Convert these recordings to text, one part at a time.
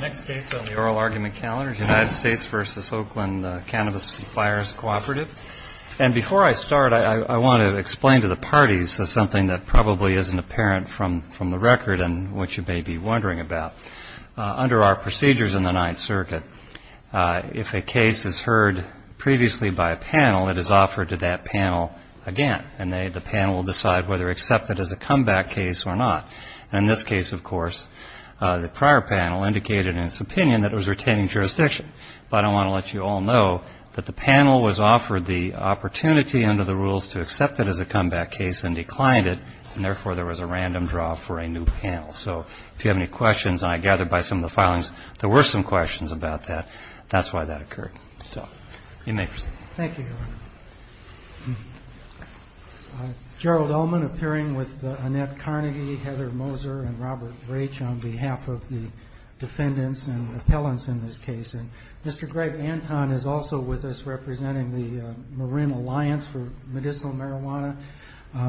Next case on the oral argument calendar, United States v. Oakland Cannabis and Fires Cooperative. And before I start, I want to explain to the parties something that probably isn't apparent from the record and which you may be wondering about. Under our procedures in the Ninth Circuit, if a case is heard previously by a panel, it is offered to that panel again, and the panel will decide whether to accept it as a comeback case or not. And in this case, of course, the prior panel indicated in its opinion that it was retaining jurisdiction. But I want to let you all know that the panel was offered the opportunity under the rules to accept it as a comeback case and declined it, and therefore there was a random draw for a new panel. So if you have any questions, and I gather by some of the filings there were some questions about that, that's why that occurred. So you may proceed. Thank you, Your Honor. Gerald Ullman appearing with Annette Carnegie, Heather Moser, and Robert Raich on behalf of the defendants and the appellants in this case. And Mr. Greg Anton is also with us representing the Marin Alliance for Medicinal Marijuana.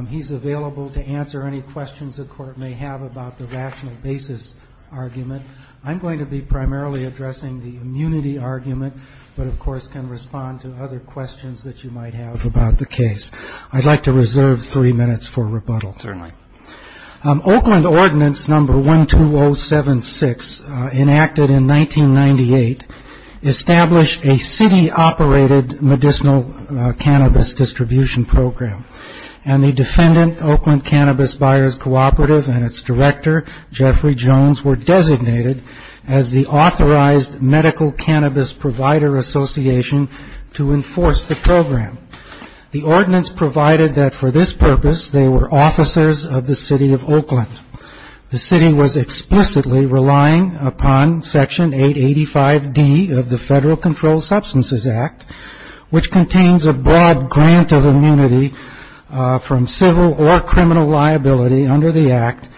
He's available to answer any questions the Court may have about the rational basis argument. I'm going to be primarily addressing the immunity argument, but of course can respond to other questions that you might have about the case. I'd like to reserve three minutes for rebuttal. Certainly. Oakland Ordinance Number 12076, enacted in 1998, established a city-operated medicinal cannabis distribution program. And the defendant, Oakland Cannabis Buyers Cooperative, and its director, Jeffrey Jones, were designated as the authorized medical cannabis provider association to enforce the program. The ordinance provided that for this purpose they were officers of the city of Oakland. The city was explicitly relying upon Section 885D of the Federal Controlled Substances Act, which contains a broad grant of immunity from civil or criminal liability under the act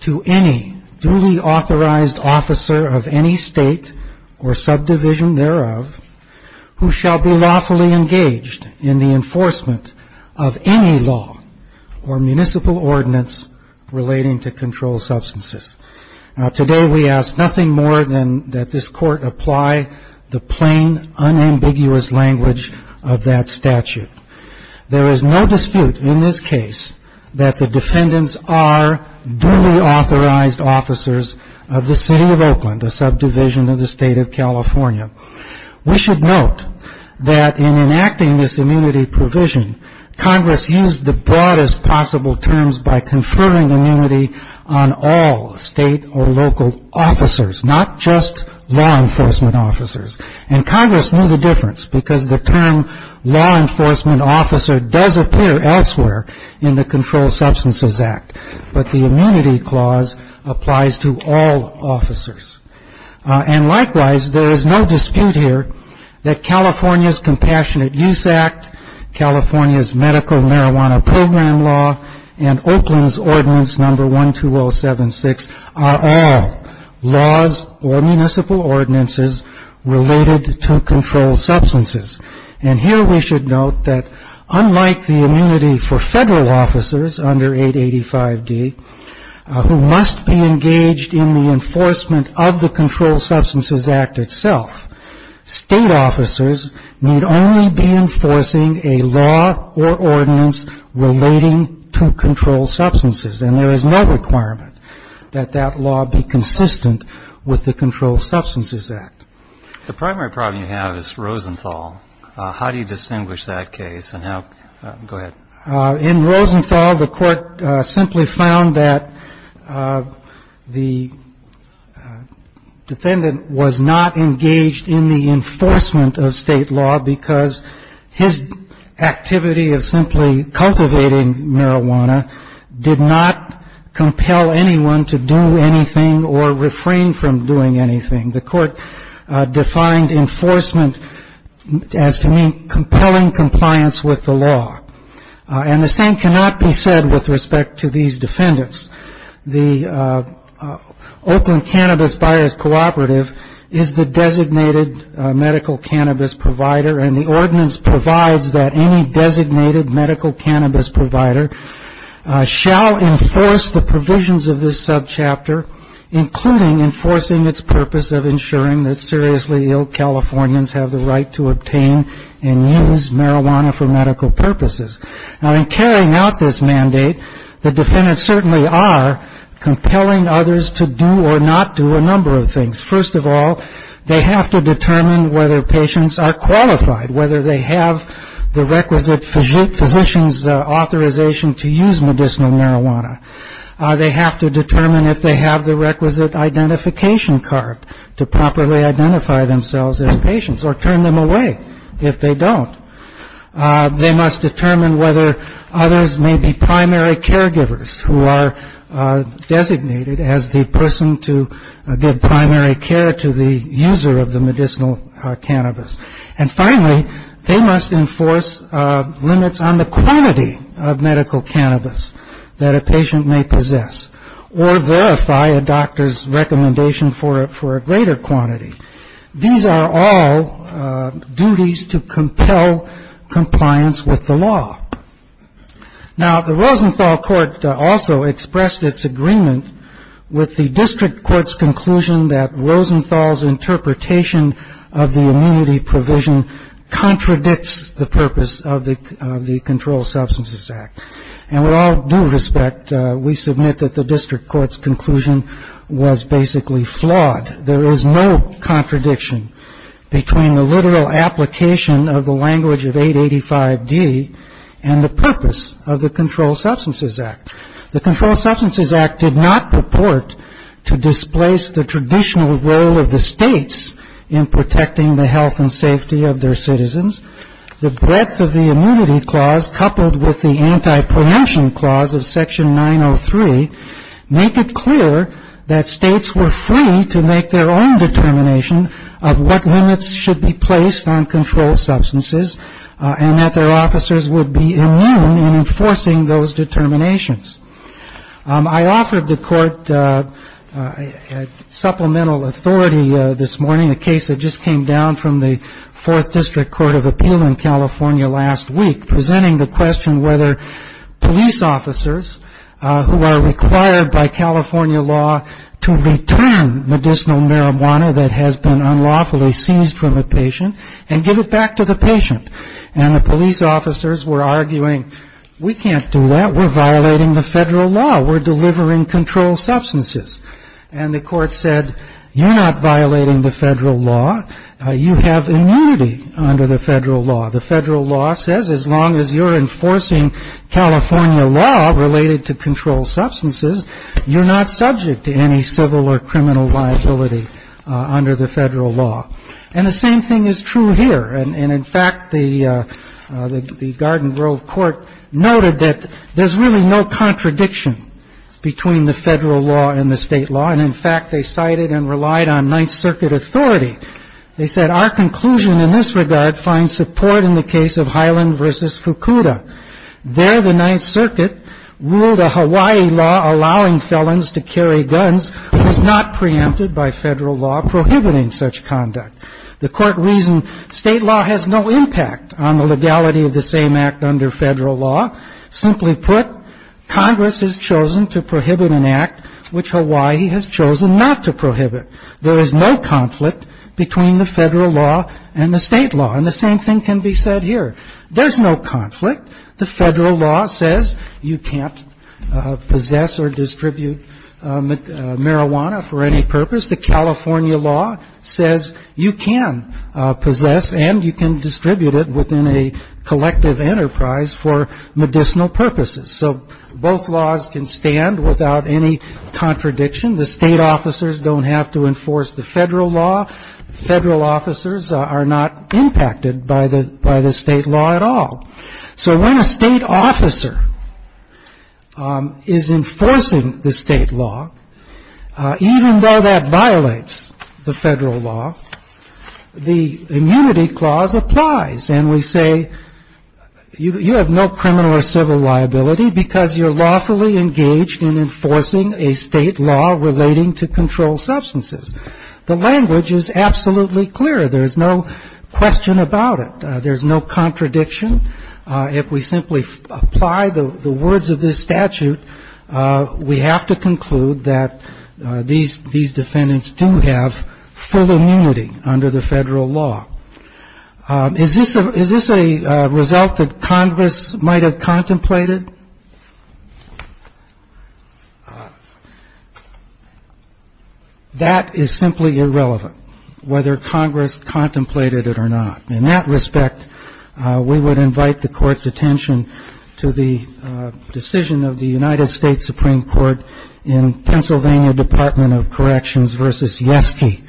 to any duly authorized officer of any state or subdivision thereof who shall be lawfully engaged in the enforcement of any law or municipal ordinance relating to controlled substances. Today we ask nothing more than that this Court apply the plain, unambiguous language of that statute. There is no dispute in this case that the defendants are duly authorized officers of the city of Oakland, a subdivision of the state of California. We should note that in enacting this immunity provision, Congress used the broadest possible terms by conferring immunity on all state or local officers, not just law enforcement officers. And Congress knew the difference because the term law enforcement officer does appear elsewhere in the Controlled Substances Act, but the immunity clause applies to all officers. And likewise, there is no dispute here that California's Compassionate Use Act, California's Medical Marijuana Program Law, and Oakland's Ordinance Number 12076 are all laws or municipal ordinances related to controlled substances. And here we should note that unlike the immunity for federal officers under 885D who must be engaged in the enforcement of the Controlled Substances Act itself, state officers need only be enforcing a law or ordinance relating to controlled substances. And there is no requirement that that law be consistent with the Controlled Substances Act. The primary problem you have is Rosenthal. How do you distinguish that case and how – go ahead. In Rosenthal, the court simply found that the defendant was not engaged in the enforcement of state law because his activity of simply cultivating marijuana did not compel anyone to do anything or refrain from doing anything. The court defined enforcement as to mean compelling compliance with the law. And the same cannot be said with respect to these defendants. The Oakland Cannabis Buyers Cooperative is the designated medical cannabis provider, and the ordinance provides that any designated medical cannabis provider shall enforce the provisions of this subchapter, including enforcing its purpose of ensuring that seriously ill Californians have the right to obtain and use marijuana for medical purposes. Now, in carrying out this mandate, the defendants certainly are compelling others to do or not do a number of things. First of all, they have to determine whether patients are qualified, whether they have the requisite physician's authorization to use medicinal marijuana. They have to determine if they have the requisite identification card to properly identify themselves as patients or turn them away if they don't. They must determine whether others may be primary caregivers who are designated as the person to give primary care to the user of the medicinal cannabis. And finally, they must enforce limits on the quantity of medical cannabis that a patient may possess or verify a doctor's recommendation for a greater quantity. These are all duties to compel compliance with the law. Now, the Rosenthal Court also expressed its agreement with the district court's conclusion that Rosenthal's interpretation of the immunity provision contradicts the purpose of the Controlled Substances Act. And with all due respect, we submit that the district court's conclusion was basically flawed. There is no contradiction between the literal application of the language of 885D and the purpose of the Controlled Substances Act. The Controlled Substances Act did not purport to displace the traditional role of the states in protecting the health and safety of their citizens. The breadth of the immunity clause coupled with the anti-pronunciation clause of Section 903 make it clear that states were free to make their own determination of what limits should be placed on controlled substances and that their officers would be immune in enforcing those determinations. I offered the court supplemental authority this morning, a case that just came down from the Fourth District Court of Appeal in California last week, presenting the question whether police officers who are required by California law to return medicinal marijuana that has been unlawfully seized from a patient and give it back to the patient. And the police officers were arguing, we can't do that. We're violating the federal law. We're delivering controlled substances. And the court said, you're not violating the federal law. You have immunity under the federal law. The federal law says as long as you're enforcing California law related to controlled substances, you're not subject to any civil or criminal liability under the federal law. And the same thing is true here. And, in fact, the Garden Grove Court noted that there's really no contradiction between the federal law and the state law. And, in fact, they cited and relied on Ninth Circuit authority. They said, our conclusion in this regard finds support in the case of Highland v. Fukuda. There the Ninth Circuit ruled a Hawaii law allowing felons to carry guns was not preempted by federal law prohibiting such conduct. The court reasoned state law has no impact on the legality of the same act under federal law. Simply put, Congress has chosen to prohibit an act which Hawaii has chosen not to prohibit. There is no conflict between the federal law and the state law. And the same thing can be said here. There's no conflict. The federal law says you can't possess or distribute marijuana for any purpose. The California law says you can possess and you can distribute it within a collective enterprise for medicinal purposes. So both laws can stand without any contradiction. The state officers don't have to enforce the federal law. Federal officers are not impacted by the state law at all. So when a state officer is enforcing the state law, even though that violates the federal law, the immunity clause applies. And we say you have no criminal or civil liability because you're lawfully engaged in enforcing a state law relating to controlled substances. The language is absolutely clear. There's no question about it. There's no contradiction. If we simply apply the words of this statute, we have to conclude that these defendants do have full immunity under the federal law. Is this a is this a result that Congress might have contemplated? That is simply irrelevant whether Congress contemplated it or not. In that respect, we would invite the court's attention to the decision of the United States Supreme Court in Pennsylvania Department of Corrections versus Yesky.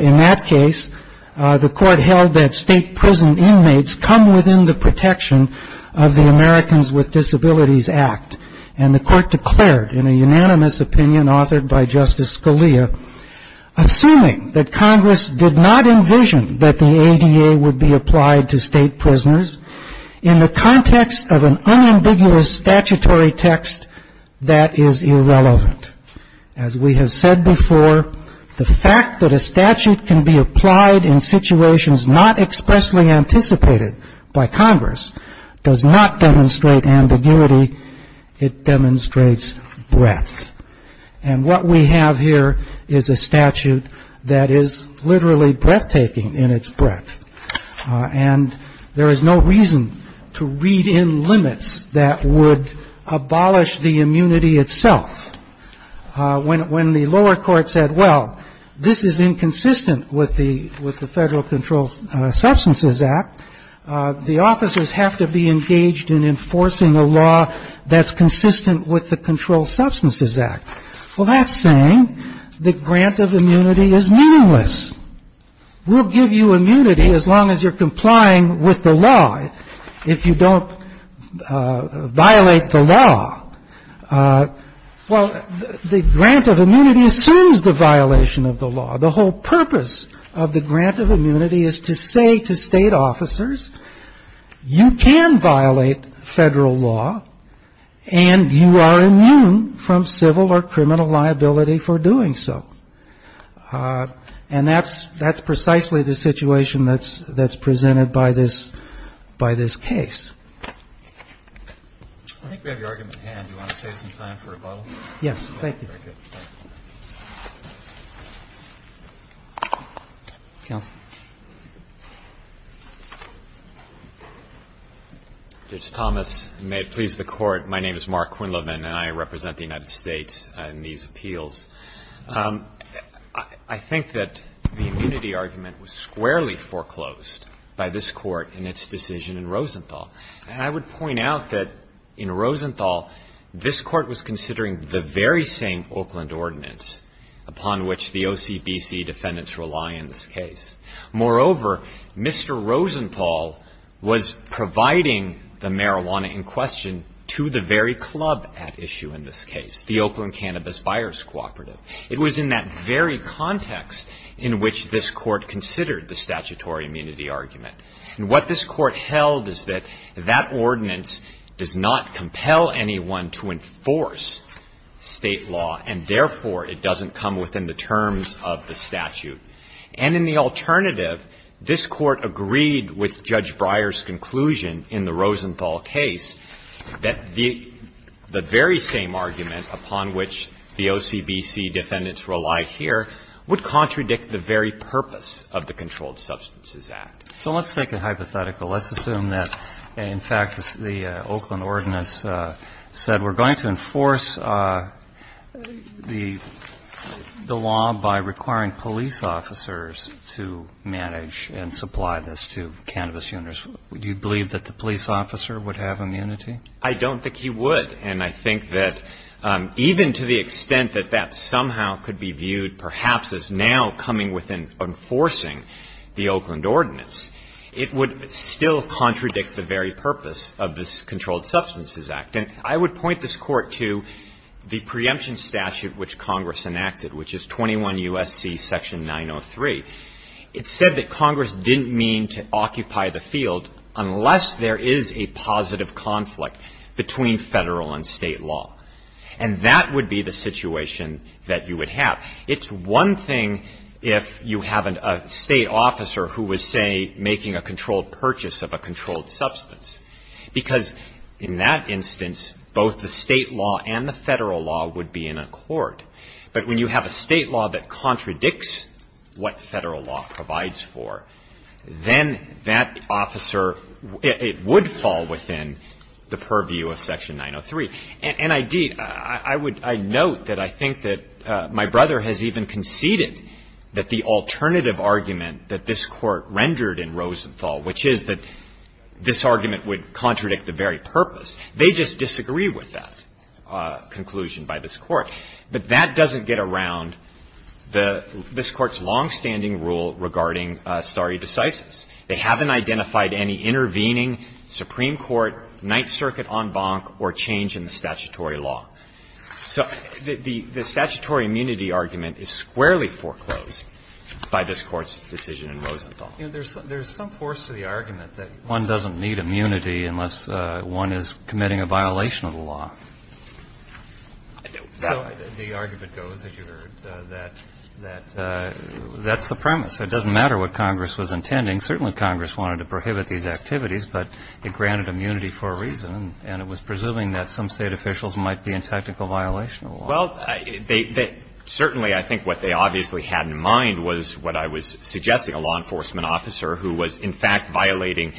In that case, the court held that state prison inmates come within the protection of the Americans with Disabilities Act. And the court declared, in a unanimous opinion authored by Justice Scalia, assuming that Congress did not envision that the ADA would be applied to state prisoners in the context of an unambiguous statutory text, that is irrelevant. As we have said before, the fact that a statute can be applied in situations not expressly anticipated by Congress does not demonstrate ambiguity. It demonstrates breadth. And what we have here is a statute that is literally breathtaking in its breadth. And there is no reason to read in limits that would abolish the immunity itself. When the lower court said, well, this is inconsistent with the with the Federal Controlled Substances Act, the officers have to be engaged in enforcing a law that's consistent with the Controlled Substances Act. Well, that's saying the grant of immunity is meaningless. We'll give you immunity as long as you're complying with the law, if you don't violate the law. Well, the grant of immunity assumes the violation of the law. The whole purpose of the grant of immunity is to say to state officers, you can violate federal law, and you are immune from civil or criminal liability for doing so. And that's precisely the situation that's presented by this case. I think we have your argument at hand. Do you want to save some time for rebuttal? Yes, thank you. Very good. Counsel. Judge Thomas, may it please the Court. My name is Mark Quinlivan, and I represent the United States in these appeals. I think that the immunity argument was squarely foreclosed by this Court in its decision in Rosenthal. And I would point out that in Rosenthal, this Court was considering the very same Oakland ordinance upon which the OCBC defendants rely in this case. Moreover, Mr. Rosenthal was providing the marijuana in question to the very club at issue in this case, the Oakland Cannabis Buyers Cooperative. It was in that very context in which this Court considered the statutory immunity argument. And what this Court held is that that ordinance does not compel anyone to enforce state law, and therefore it doesn't come within the terms of the statute. And in the alternative, this Court agreed with Judge Breyer's conclusion in the Rosenthal case that the very same argument upon which the OCBC defendants rely here would contradict the very purpose of the Controlled Substances Act. So let's take a hypothetical. Let's assume that, in fact, the Oakland ordinance said we're going to enforce the law by requiring police officers to manage and supply this to cannabis users. Would you believe that the police officer would have immunity? I don't think he would. And I think that even to the extent that that somehow could be viewed, perhaps, as now coming within enforcing the Oakland ordinance, it would still contradict the very purpose of this Controlled Substances Act. And I would point this Court to the preemption statute which Congress enacted, which is 21 U.S.C. section 903. It said that Congress didn't mean to occupy the field unless there is a positive conflict between federal and state law, and that would be the situation that you would have. It's one thing if you have a state officer who was, say, making a controlled purchase of a controlled substance, because in that instance both the state law and the federal law would be in accord. But when you have a state law that contradicts what federal law provides for, then that officer would fall within the purview of section 903. And, indeed, I note that I think that my brother has even conceded that the alternative argument that this Court rendered in Rosenthal, which is that this argument would contradict the very purpose, they just disagree with that conclusion by this Court. But that doesn't get around this Court's longstanding rule regarding stare decisis. They haven't identified any intervening Supreme Court, Ninth Circuit en banc or change in the statutory law. So the statutory immunity argument is squarely foreclosed by this Court's decision in Rosenthal. There's some force to the argument that one doesn't need immunity unless one is committing a violation of the law. So the argument goes, as you heard, that that's the premise. It doesn't matter what Congress was intending. Certainly Congress wanted to prohibit these activities, but it granted immunity for a reason. And it was presuming that some state officials might be in technical violation of the law. Well, certainly I think what they obviously had in mind was what I was suggesting, a law enforcement officer who was, in fact, violating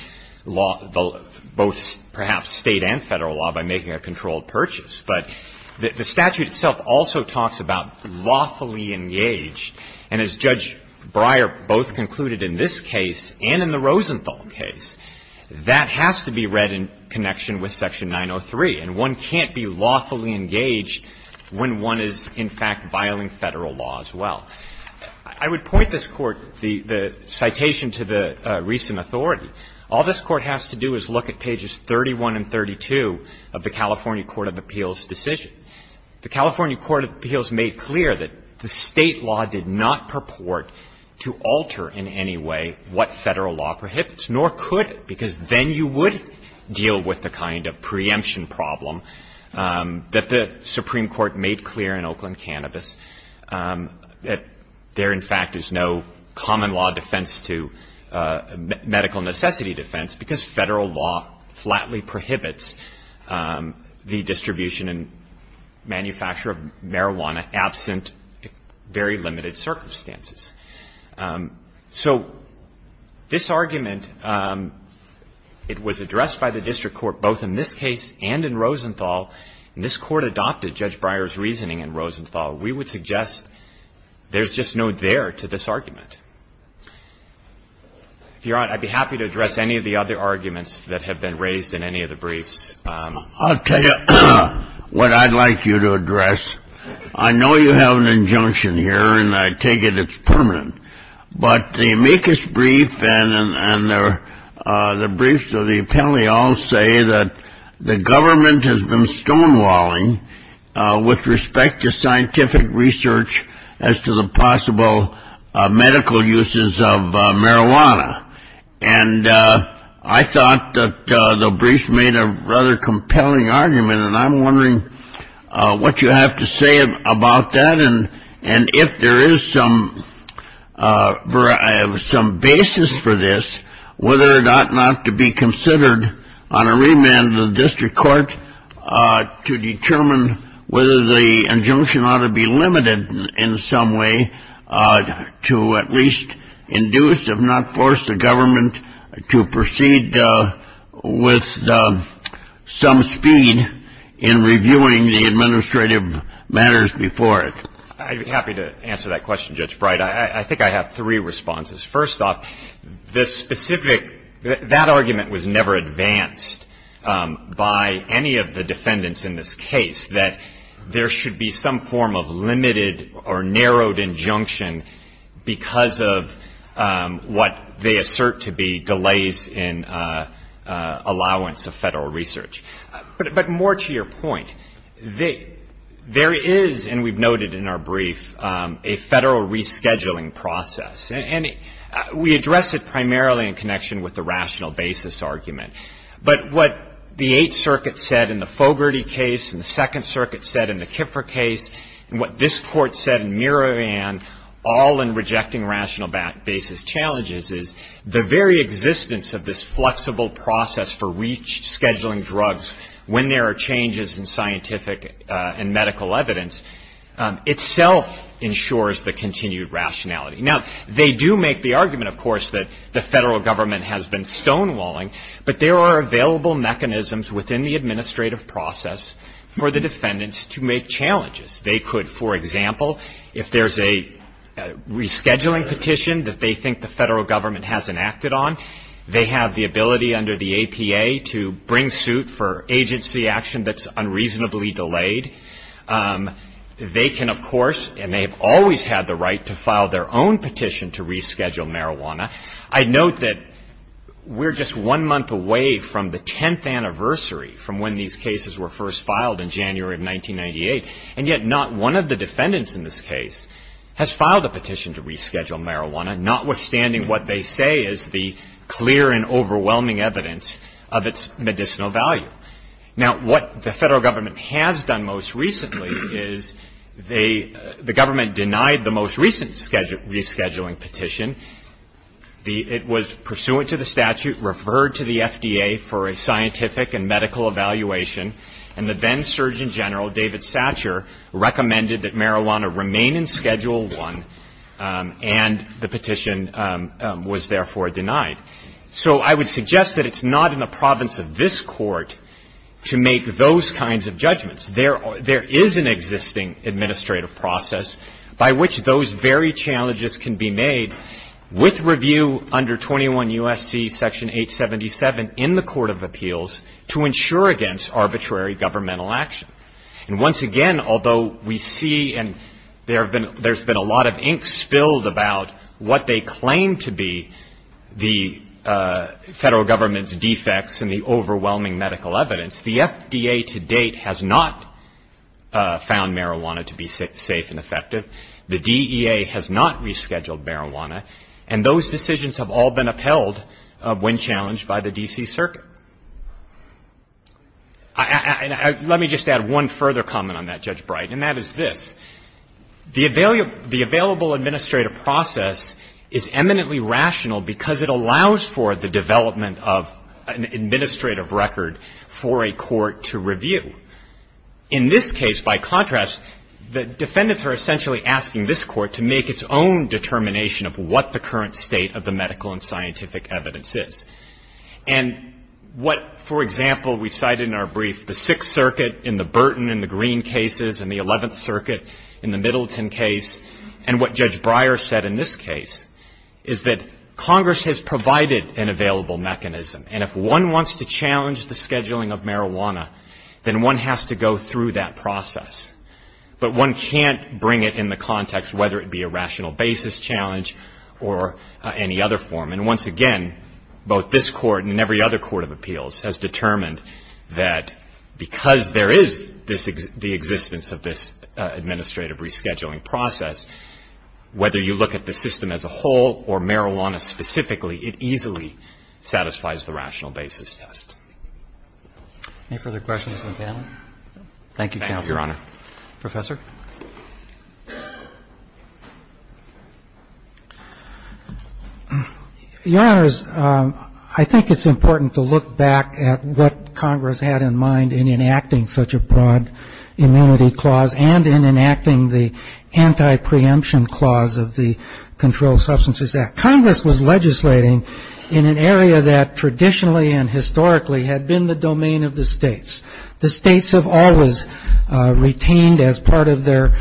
both perhaps State and Federal law by making a controlled purchase. But the statute itself also talks about lawfully engaged. And as Judge Breyer both concluded in this case and in the Rosenthal case, that has to be read in connection with Section 903. And one can't be lawfully engaged when one is, in fact, violating Federal law as well. Now, I would point this Court, the citation to the recent authority. All this Court has to do is look at pages 31 and 32 of the California Court of Appeals decision. The California Court of Appeals made clear that the State law did not purport to alter in any way what Federal law prohibits, nor could it, because then you would deal with the kind of preemption problem that the Supreme Court made clear in Oakland cannabis, that there, in fact, is no common law defense to medical necessity defense, because Federal law flatly prohibits the distribution and manufacture of marijuana absent very limited circumstances. So this argument, it was addressed by the district court both in this case and in the Rosenthal. We would suggest there's just no there to this argument. Your Honor, I'd be happy to address any of the other arguments that have been raised in any of the briefs. I'll tell you what I'd like you to address. I know you have an injunction here, and I take it it's permanent. But the amicus brief and the briefs of the appellee all say that the government has been stonewalling with respect to scientific research as to the possible medical uses of marijuana. And I thought that the brief made a rather compelling argument, and I'm wondering what you have to say about that, and if there is some basis for this, whether or not not to be considered on a remand of the district court, to determine whether the injunction ought to be limited in some way to at least induce, if not force, the government to proceed with some speed in reviewing the administrative matters before it. I'd be happy to answer that question, Judge Bright. I think I have three responses. First off, that argument was never advanced by any of the defendants in this case, that there should be some form of limited or narrowed injunction because of what they assert to be delays in allowance of federal research. But more to your point, there is, and we've noted in our brief, a federal rescheduling process. And we address it primarily in connection with the rational basis argument. But what the Eighth Circuit said in the Fogarty case and the Second Circuit said in the Kiffer case, and what this Court said in Miravan, all in rejecting rational basis challenges, is the very existence of this flexible process for rescheduling drugs when there are changes in scientific and medical evidence itself ensures the continued rationality. Now, they do make the argument, of course, that the federal government has been stonewalling, but there are available mechanisms within the administrative process for the defendants to make challenges. They could, for example, if there's a rescheduling petition that they think the federal government hasn't acted on, they have the ability under the APA to bring suit for agency action that's unreasonably delayed. They can, of course, and they have always had the right to file their own petition to reschedule marijuana. I note that we're just one month away from the 10th anniversary from when these cases were first filed in January of 1998, and yet not one of the defendants in this case has filed a petition to reschedule marijuana, notwithstanding what they say is the clear and overwhelming evidence of its medicinal value. Now, what the federal government has done most recently is the government denied the most recent rescheduling petition. It was pursuant to the statute, referred to the FDA for a scientific and medical evaluation, and the then Surgeon General, David Satcher, recommended that marijuana remain in Schedule I and the petition be rescheduled. The petition was therefore denied. So I would suggest that it's not in the province of this Court to make those kinds of judgments. There is an existing administrative process by which those very challenges can be made with review under 21 U.S.C. Section 877 in the Court of Appeals to ensure against arbitrary governmental action. And once again, although we see and there's been a lot of ink spilled about what they claim to be the federal government's defects and the overwhelming medical evidence, the FDA to date has not found marijuana to be safe and effective. The DEA has not rescheduled marijuana, and those decisions have all been upheld when challenged by the D.C. Circuit. And let me just add one further comment on that, Judge Bright, and that is this. The available administrative process is eminently rational because it allows for the development of an administrative record for a court to review. In this case, by contrast, the defendants are essentially asking this Court to make its own determination of what the current state of the medical and scientific evidence is. And what, for example, we cited in our brief, the Sixth Circuit in the Burton and the Green cases, and the Eleventh Circuit in the Middleton case, and what Judge Breyer said in this case, is that Congress has provided an available mechanism, and if one wants to challenge the scheduling of marijuana, then one has to go through that process. But one can't bring it in the context whether it be a rational basis challenge or any other form. And once again, both this Court and every other court of appeals has determined that because there is the existence of this administrative rescheduling process, whether you look at the system as a whole or marijuana specifically, it easily satisfies the rational basis test. Any further questions of the panel? Thank you, Counsel. Thank you, Your Honor. Professor? Your Honors, I think it's important to look back at what Congress had in mind in enacting such a broad immunity clause and in enacting the anti-preemption clause of the Controlled Substances Act. Congress was legislating in an area that traditionally and historically had been the domain of the states. The states have always retained as part of their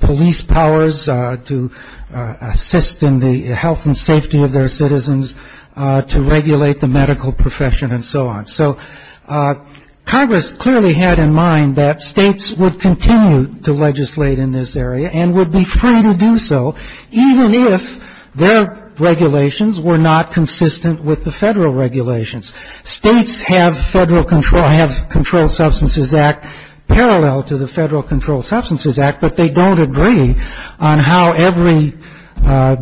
police powers to assist in the health and safety of their citizens, to regulate the medical profession, and so on. So Congress clearly had in mind that states would continue to legislate in this area and would be free to do so, even if regulations were not consistent with the federal regulations. States have Controlled Substances Act parallel to the Federal Controlled Substances Act, but they don't agree on how every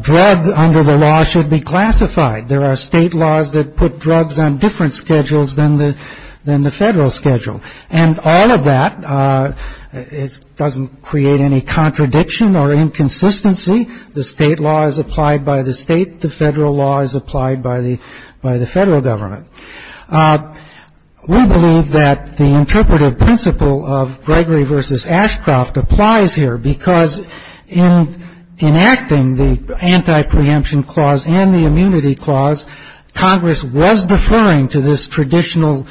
drug under the law should be classified. There are state laws that put drugs on different schedules than the federal schedule. And all of that doesn't create any contradiction or inconsistency. The state law is applied by the state, the federal law is applied by the federal government. We believe that the interpretive principle of Gregory v. Ashcroft applies here, because in enacting the anti-preemption clause and the immunity clause, Congress was deferring to this traditional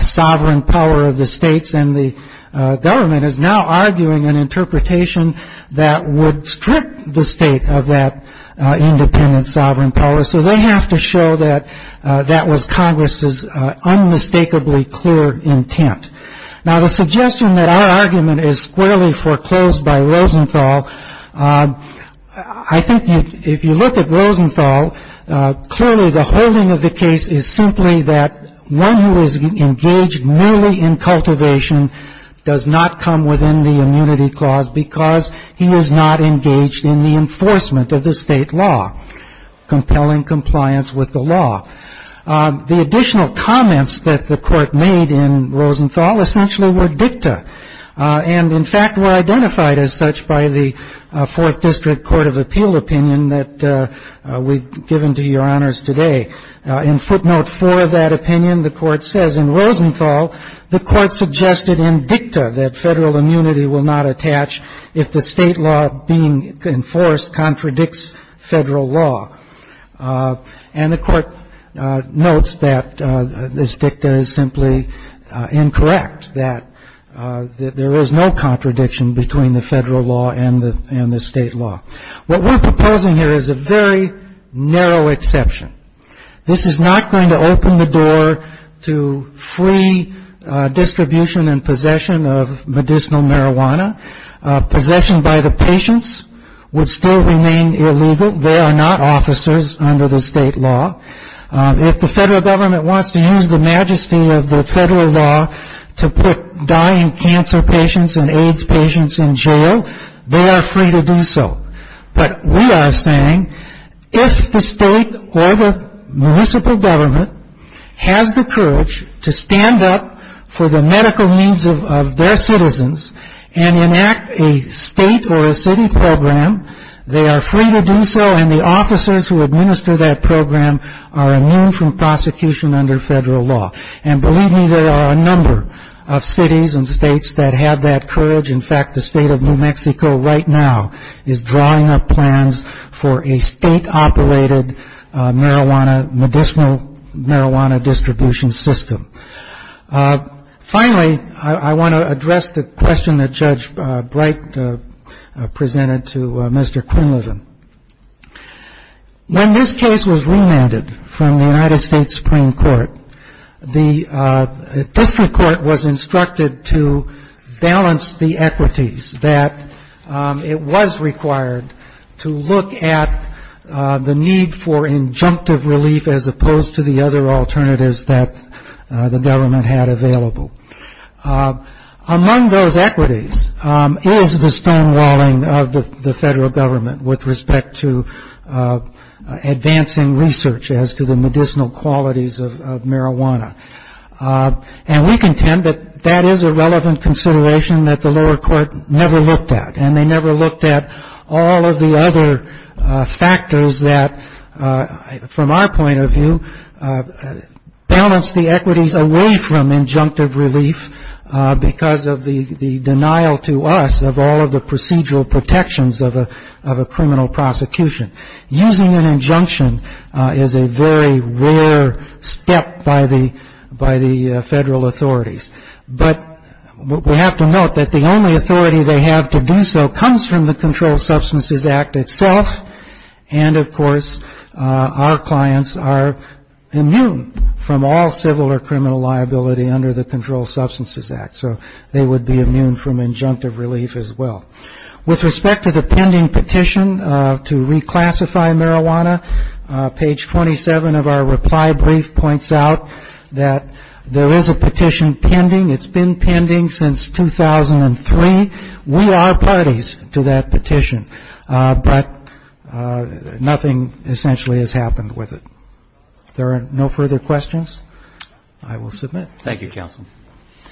sovereign power of the states, and the government is now arguing an interpretation that would strip the state of that independent sovereign power. So they have to show that that was Congress's unmistakably clear intent. Now, the suggestion that our argument is squarely foreclosed by Rosenthal, I think if you look at Rosenthal, clearly the holding of the case is simply that one who is engaged merely in cultivation does not come within the immunity clause because he is not engaged in the enforcement of the state law, compelling compliance with the law. The additional comments that the Court made in Rosenthal essentially were dicta, and in fact were identified as such by the Fourth District Court of Appeal opinion that we've given to Your Honors today. In footnote 4 of that opinion, the Court says in Rosenthal the Court suggested in dicta that federal immunity will not attach if the state law being enforced contradicts federal law. And the Court notes that this dicta is simply incorrect, that there is no contradiction between the federal law and the state law. What we're proposing here is a very narrow exception. This is not going to open the door to free distribution and possession of medicinal marijuana. Possession by the patients would still remain illegal. They are not officers under the state law. If the federal government wants to use the majesty of the federal law to put dying cancer patients and AIDS patients in jail, they are free to do so. But we are saying if the state or the municipal government has the courage to stand up for the medical needs of their citizens and enact a state or a city program, they are free to do so, and the officers who administer that program are immune from prosecution under federal law. And believe me, there are a number of cities and states that have that courage. In fact, the state of New Mexico right now is drawing up plans for a state-operated medicinal marijuana distribution system. Finally, I want to address the question that Judge Bright presented to Mr. Quinlivan. When this case was remanded from the United States Supreme Court, the district court was instructed to balance the equities that it was required to look at the need for injunctive relief as opposed to the other alternatives that the government had available. Among those equities is the stonewalling of the federal government with respect to advancing research as to the medicinal qualities of marijuana. And we contend that that is a relevant consideration that the lower court never looked at, and they never looked at all of the other factors that, from our point of view, balance the equities away from injunctive relief because of the denial to us of all of the procedural protections of a criminal prosecution. Using an injunction is a very rare step by the federal authorities. But we have to note that the only authority they have to do so comes from the Controlled Substances Act itself, and they would be immune from all civil or criminal liability under the Controlled Substances Act. So they would be immune from injunctive relief as well. With respect to the pending petition to reclassify marijuana, page 27 of our reply brief points out that there is a petition pending. It's been pending since 2003. We are parties to that petition, but nothing essentially has happened with it. If there are no further questions, I will submit.